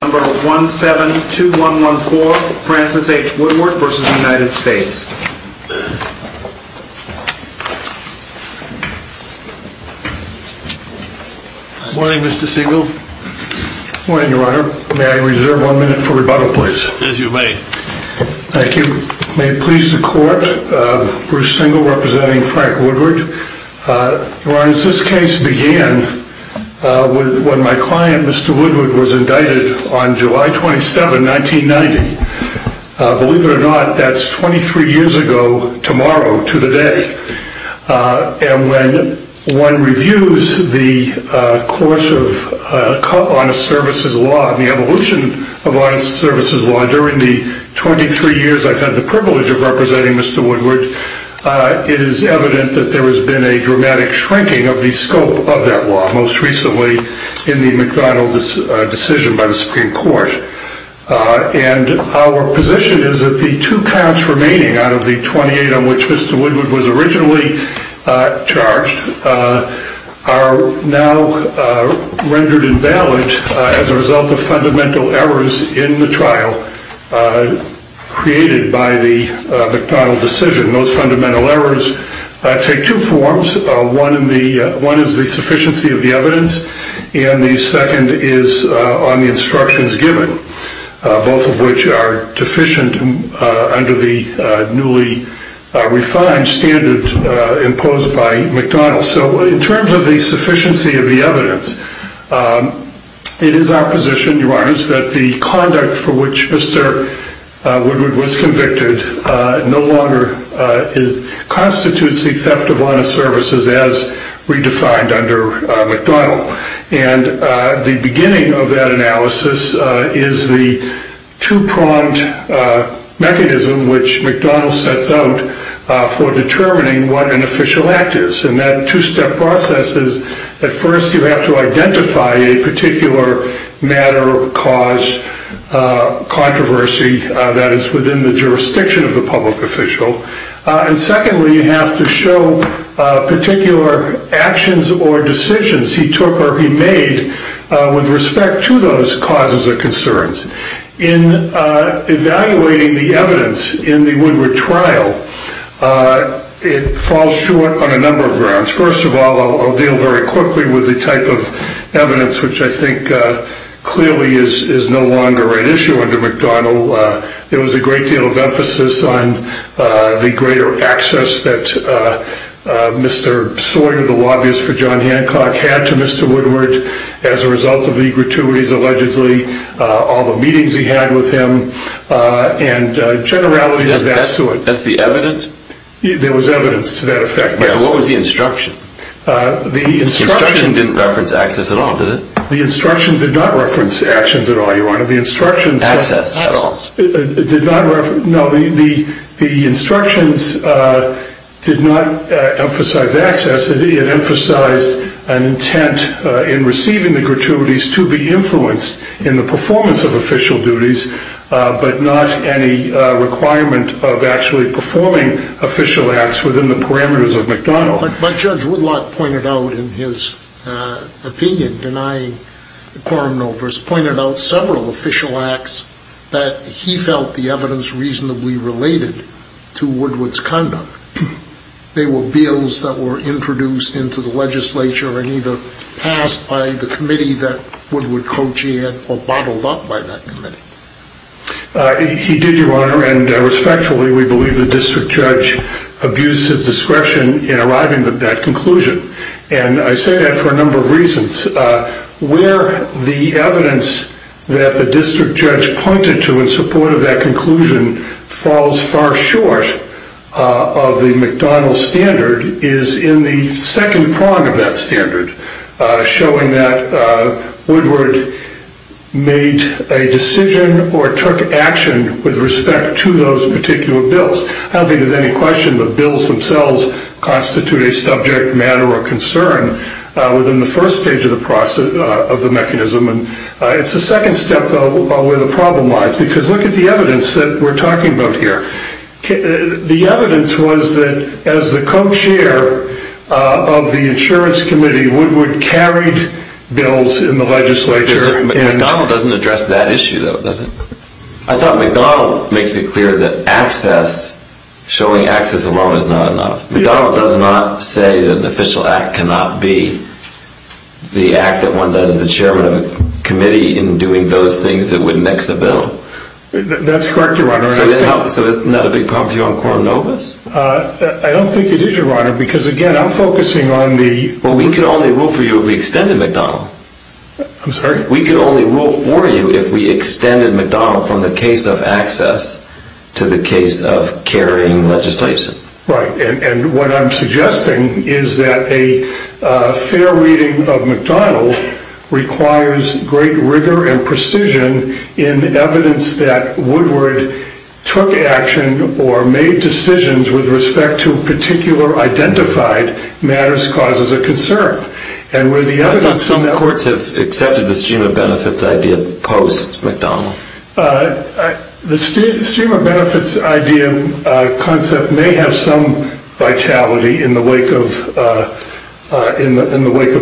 172114 Francis H. Woodward v. United States Good morning Mr. Single. Good morning your honor. May I reserve one minute for rebuttal please? Yes you may. Thank you. May it please the court, Bruce Single representing Frank Woodward. Your honor, since this case began when my client, Mr. Woodward, was indicted on July 27, 1990, believe it or not that's 23 years ago tomorrow to the day. And when one reviews the course of honest services law and the evolution of honest services law during the 23 years I've had the privilege of representing Mr. Woodward, it is evident that there has been a dramatic shrinking of the scope of that law, most recently in the McDonnell decision by the Supreme Court. And our position is that the two counts remaining out of the 28 on which Mr. Woodward was originally charged are now rendered invalid as a result of fundamental errors in the trial created by the McDonnell decision. Those fundamental errors take two forms. One is the sufficiency of the evidence and the second is on the instructions given, both of which are deficient under the newly refined standard imposed by McDonnell. So in terms of the sufficiency of the evidence, it is our position, your honor, that the conduct for which Mr. Woodward was convicted no longer constitutes the theft of honest services as redefined under McDonnell. And the beginning of that analysis is the two-pronged mechanism which McDonnell sets out for determining what an official act is. And that two-step process is that first you have to identify a particular matter, cause, controversy that is within the jurisdiction of the public official. And secondly, you have to show particular actions or decisions he took or he made with respect to those causes or concerns. In evaluating the evidence in the Woodward trial, it falls short on a number of grounds. First of all, I'll deal very quickly with the type of evidence which I think clearly is no longer an issue under McDonnell. There was a great deal of emphasis on the greater access that Mr. Sawyer, the lobbyist for John Hancock, had to Mr. Woodward as a result of the gratuities allegedly, all the meetings he had with him, and generalities of that sort. That's the evidence? There was evidence to that effect. What was the instruction? The instruction didn't reference access at all, did it? The instruction did not reference access at all, Your Honor. The instructions did not emphasize access. It emphasized an intent in receiving the gratuities to be influenced in the performance of official duties, but not any requirement of actually performing official acts within the parameters of McDonnell. But Judge Woodlock pointed out in his opinion, denying quorum no verse, pointed out several official acts that he felt the evidence reasonably related to Woodward's conduct. They were bills that were introduced into the legislature and either passed by the committee that Woodward co-chaired or bottled up by that committee. He did, Your Honor, and respectfully, we believe the district judge abused his discretion in arriving at that conclusion. And I say that for a number of reasons. Where the evidence that the district judge pointed to in support of that conclusion falls far short of the evidence that Woodward made a decision or took action with respect to those particular bills. I don't think there's any question that bills themselves constitute a subject matter or concern within the first stage of the mechanism. It's the second step, though, where the problem lies, because look at the evidence that we're talking about here. The evidence was that as the co-chair of the insurance committee, Woodward carried bills in the legislature. McDonald doesn't address that issue, though, does he? I thought McDonald makes it clear that access, showing access alone is not enough. McDonald does not say that an official act cannot be the act that one does as the chairman of a committee in doing those things that would next the bill. That's correct, Your Honor. So it's not a big problem for you on quorum no verse? I don't think it is, Your Honor, because again, I'm focusing on the... Well, we can only rule for you if we extended McDonald. I'm sorry? We can only rule for you if we extended McDonald from the case of access to the case of carrying legislation. Right, and what I'm suggesting is that a fair reading of McDonald requires great rigor and precision in evidence that Woodward took action or made decisions with respect to particular identified matters, causes, or concern. And where the evidence... I thought some courts have accepted the stream of benefits idea post-McDonald. The stream of benefits idea concept may have some vitality in the wake of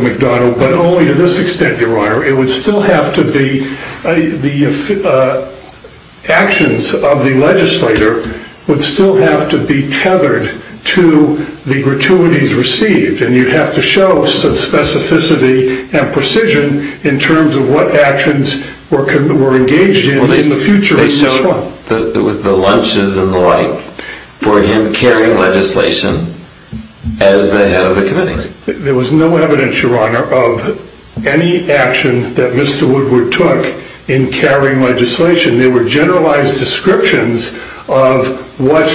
McDonald, but only to this extent, Your Honor. The actions of the legislator would still have to be tethered to the gratuities received, and you'd have to show some specificity and precision in terms of what actions were engaged in in the future. They showed the lunches and the like for him carrying legislation as the head of the committee. There was no evidence, Your Honor, of any action that Mr. Woodward took in carrying legislation. There were generalized descriptions of what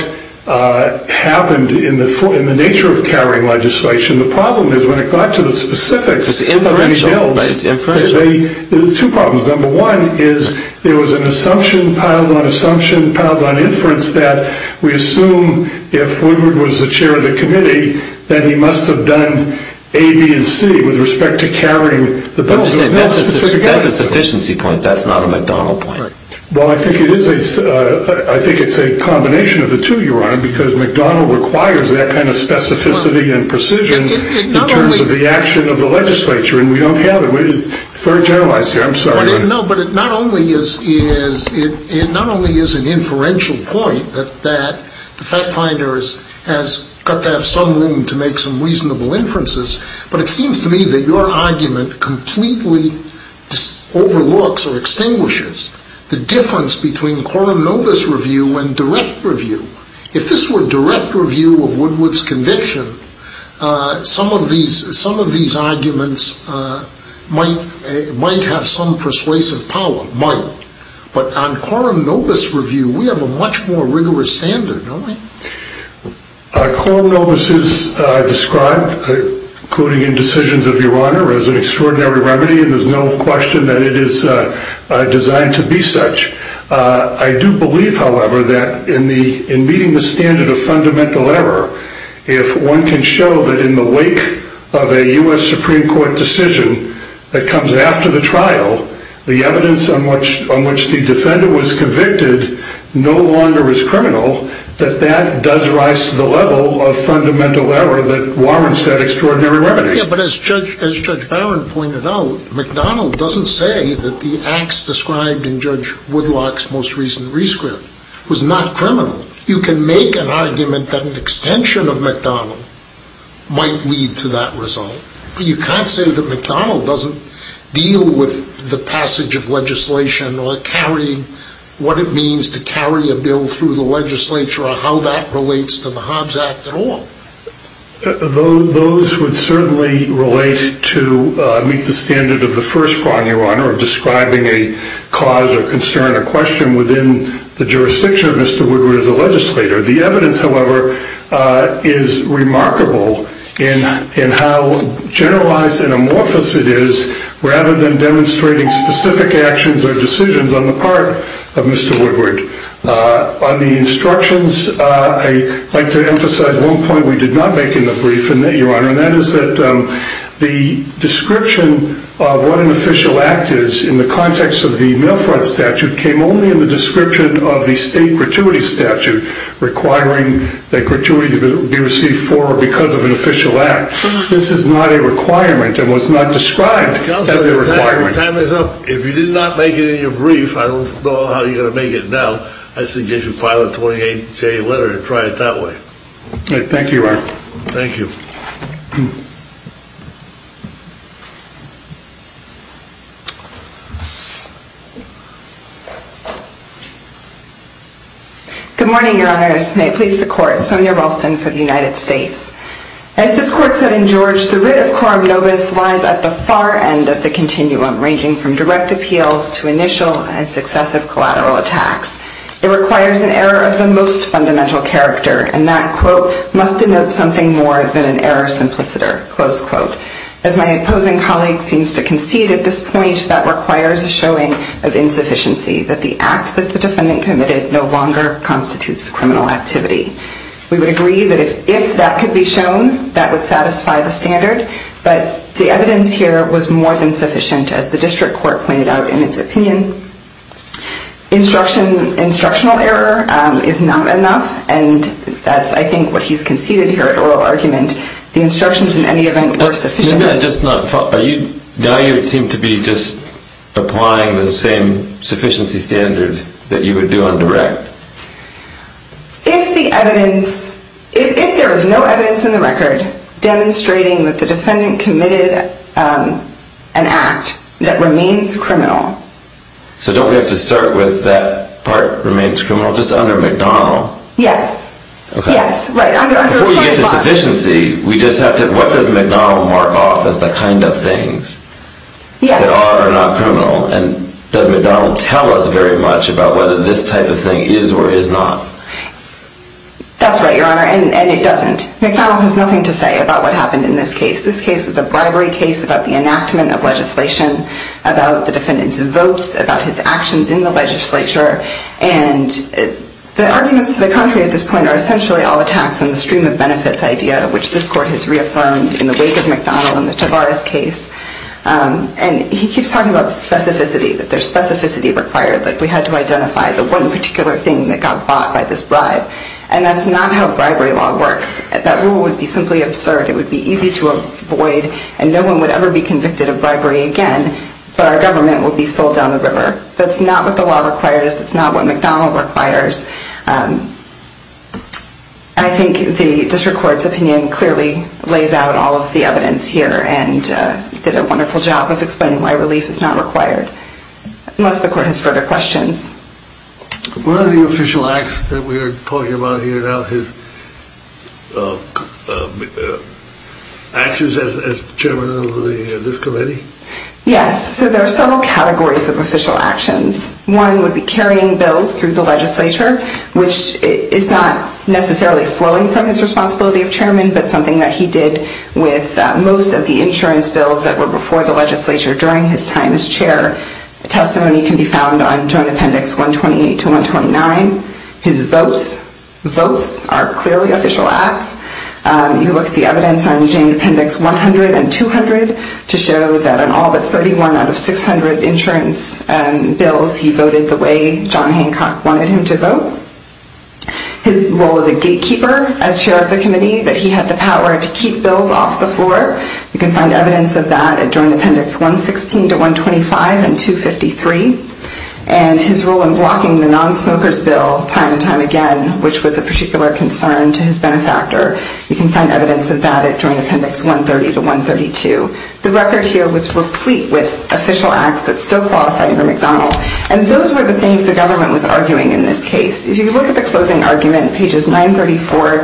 happened in the nature of carrying legislation. The problem is, when it got to the specifics of any bills, there were two problems. Number one is, there was an assumption piled on assumption, piled on inference, that we assume if Woodward was the chair of the committee, that he must have done A, B, and C with respect to carrying the bill. That's a sufficiency point. That's not a McDonald point. Well, I think it's a combination of the two, Your Honor, because McDonald requires that kind of specificity and precision in terms of the action of the legislature, and we don't have it. It's very generalized here. I'm sorry. No, but it not only is an inferential point that the fact finder has got to have some room to make some reasonable inferences, but it seems to me that your argument completely overlooks or extinguishes the difference between quorum novus review and direct review. If this were direct review of Woodward's conviction, some of these arguments might have some persuasive power, might, but on quorum novus review, we have a much more rigorous standard, don't we? Quorum novus is described, including in decisions of Your Honor, as an extraordinary remedy, and there's no question that it is designed to be such. I do believe, however, that in meeting the standard of fundamental error, if one can show that in the wake of a U.S. Supreme Court decision that comes after the trial, the evidence on which the defender was convicted no longer is criminal, that that does rise to the level of fundamental error that warrants that extraordinary remedy. Yeah, but as Judge Barron pointed out, McDonnell doesn't say that the acts described in Judge Woodlock's most recent rescript was not criminal. You can make an argument that an extension of McDonnell might lead to that result, but you can't say that McDonnell doesn't deal with the passage of legislation or what it means to carry a bill through the legislature or how that relates to the Hobbs Act at all. Those would certainly relate to meet the standard of the first prong, Your Honor, of describing a cause or concern or question within the jurisdiction of Mr. Woodward as a legislator. The evidence, however, is remarkable in how generalized and amorphous it is rather than demonstrating specific actions or decisions on the part of Mr. Woodward. On the instructions, I'd like to emphasize one point we did not make in the brief, Your Honor, and that is that the description of what an official act is in the context of the mail front statute came only in the description of the state gratuity statute requiring that gratuity be received for or because of an official act. This is not a requirement and was not described as a requirement. Counselor, your time is up. If you did not make it in your brief, I don't know how you're going to make it now. I suggest you file a 28-J letter and try it that way. Thank you, Your Honor. Thank you. Good morning, Your Honors. May it please the Court. Sonia Ralston for the United States. As this Court said in George, the writ of coram nobis lies at the far end of the continuum, ranging from direct appeal to initial and successive collateral attacks. It requires an error of the most fundamental character, and that, quote, must denote something more than an error simpliciter, close quote. As my opposing colleague seems to concede at this point, that requires a showing of insufficiency, that the act that the defendant committed no longer constitutes criminal activity. We would agree that if that could be shown, that would satisfy the standard, but the evidence here was more than sufficient, as the district court pointed out in its opinion. Instructional error is not enough, and that's, I think, what he's conceded here at oral argument. The instructions, in any event, were sufficient. Now you seem to be just applying the same sufficiency standard that you would do on direct. If the evidence, if there was no evidence in the record demonstrating that the defendant committed an act that remains criminal. So don't we have to start with that part remains criminal, just under McDonald? Yes. Yes, right. Before you get to sufficiency, we just have to, what does McDonald mark off as the kind of things that are or are not criminal, and does McDonald tell us very much about whether this type of thing is or is not? That's right, Your Honor, and it doesn't. McDonald has nothing to say about what happened in this case. This case was a bribery case about the enactment of legislation, about the defendant's votes, about his actions in the legislature, and the arguments to the extreme of benefits idea, which this court has reaffirmed in the wake of McDonald and the Tavares case. And he keeps talking about specificity, that there's specificity required, that we had to identify the one particular thing that got bought by this bribe. And that's not how bribery law works. That rule would be simply absurd. It would be easy to avoid, and no one would ever be convicted of bribery again, but our government would be sold down the river. That's not what the law requires. That's not what McDonald requires. I think the district court's opinion clearly lays out all of the evidence here, and did a wonderful job of explaining why relief is not required, unless the court has further questions. What are the official acts that we are talking about here now, his actions as chairman of this committee? Yes, so there are several categories of official actions. One would be carrying bills through the legislature, which is not necessarily flowing from his responsibility of chairman, but something that he did with most of the insurance bills that were before the legislature during his time as chair. Testimony can be found on Joint Appendix 128 to 129. His votes, votes are clearly official acts. You look at the evidence on Joint Appendix 100 and 200 to show that on all but 31 out of 600 insurance bills, he voted the way John Hancock wanted him to vote. His role as a gatekeeper, as chair of the committee, that he had the power to keep bills off the floor. You can find evidence of that at Joint Appendix 116 to 125 and 253, and his role in blocking the non-smokers bill time and time again, which was a particular concern to his benefactor. You can find evidence of that at Joint Appendix 130 to 132. The record here was replete with official acts that still qualify under McDonnell, and those were the things the government was arguing in this case. If you look at the closing argument pages 934,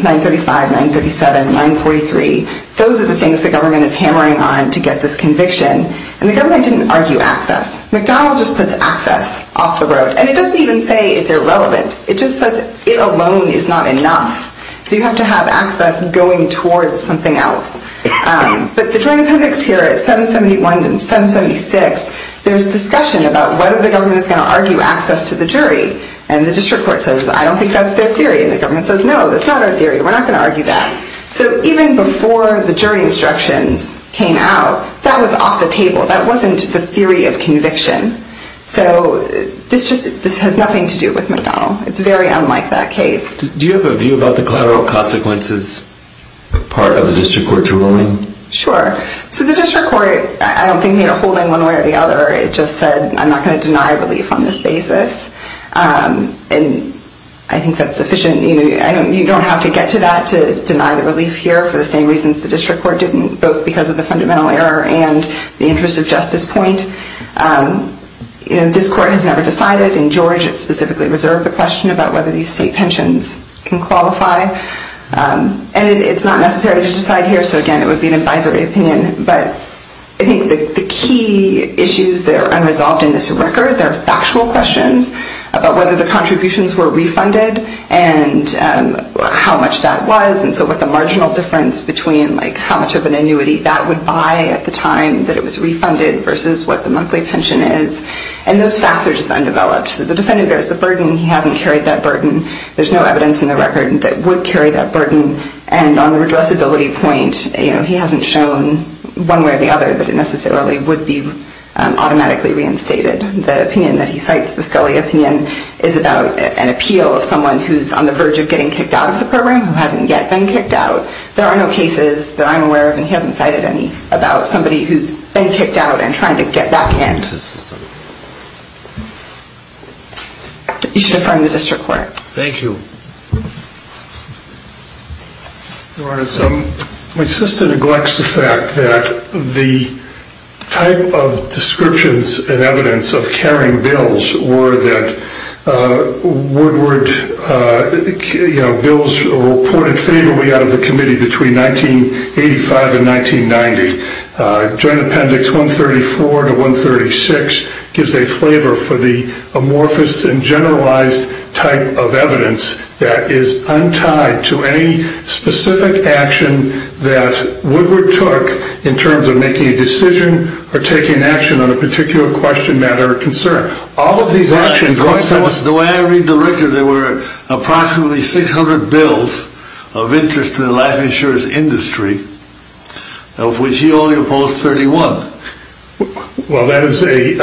935, 937, 943, those are the things the government is hammering on to get this conviction, and the government didn't argue access. McDonnell just puts access off the road, and it doesn't even say it's irrelevant. It just says it alone is not enough, so you have to have access going towards something else. But the Joint Appendix here at 771 and 776, there's discussion about whether the government is going to argue access to the jury, and the district court says, I don't think that's their theory, and the government says, no, that's not our theory. We're not going to argue that. So even before the jury instructions came out, that was off the table. That wasn't the theory of conviction. So this has nothing to do with McDonnell. It's very unlike that case. Do you have a view about the collateral consequences part of the district court's ruling? Sure. So the district court, I don't think they are holding one way or the other. It just said, I'm not going to deny relief on this basis, and I think that's sufficient. You don't have to get to that to deny the relief here for the same reasons the district court didn't, both because of the fundamental error and the interest of justice point. This court has never decided, and George has specifically reserved the question about whether these state pensions can qualify, and it's not necessary to decide here. So again, it would be an advisory opinion, but I think the key issues that are unresolved in this record are factual questions about whether the contributions were refunded and how much that was, and so with the marginal difference between how much of an annuity that would buy at the time that it was refunded versus what the monthly pension is, and those facts are just undeveloped. The defendant bears the burden. He hasn't carried that burden. There's no evidence in the record that would carry that burden, and on the redressability point, he hasn't shown one way or the other that it necessarily would be automatically reinstated. The opinion that he cites, the Scully opinion, is about an appeal of someone who's on the verge of getting kicked out of the program, who hasn't yet been kicked out. There are no cases that I'm aware of, and he hasn't cited any, about somebody who's been kicked out and You should find the district court. Thank you. Your Honor, my sister neglects the fact that the type of descriptions and evidence of carrying bills were that bills were reported favorably out of the committee between 1985 and 1990. Joint Appendix 134 to 136 gives a flavor for the amorphous and generalized type of evidence that is untied to any specific action that Woodward took in terms of making a decision or taking action on a particular question, matter, or concern. All of these actions The way I read the record, there were approximately 600 bills of interest to the life insurance industry, of which he only opposed 31. Well, that is a,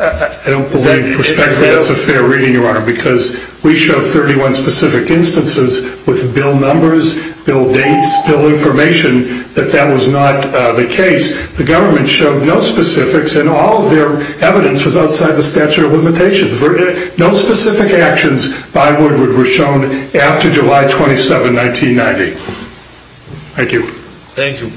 I don't believe, respectfully, that's a fair reading, Your Honor, because we showed 31 specific instances with bill numbers, bill dates, bill information, that that was not the case. The government showed no specifics, and all of their evidence was outside the statute of limitations. No specific actions by Woodward were shown after July 27, 1990. Thank you. Thank you.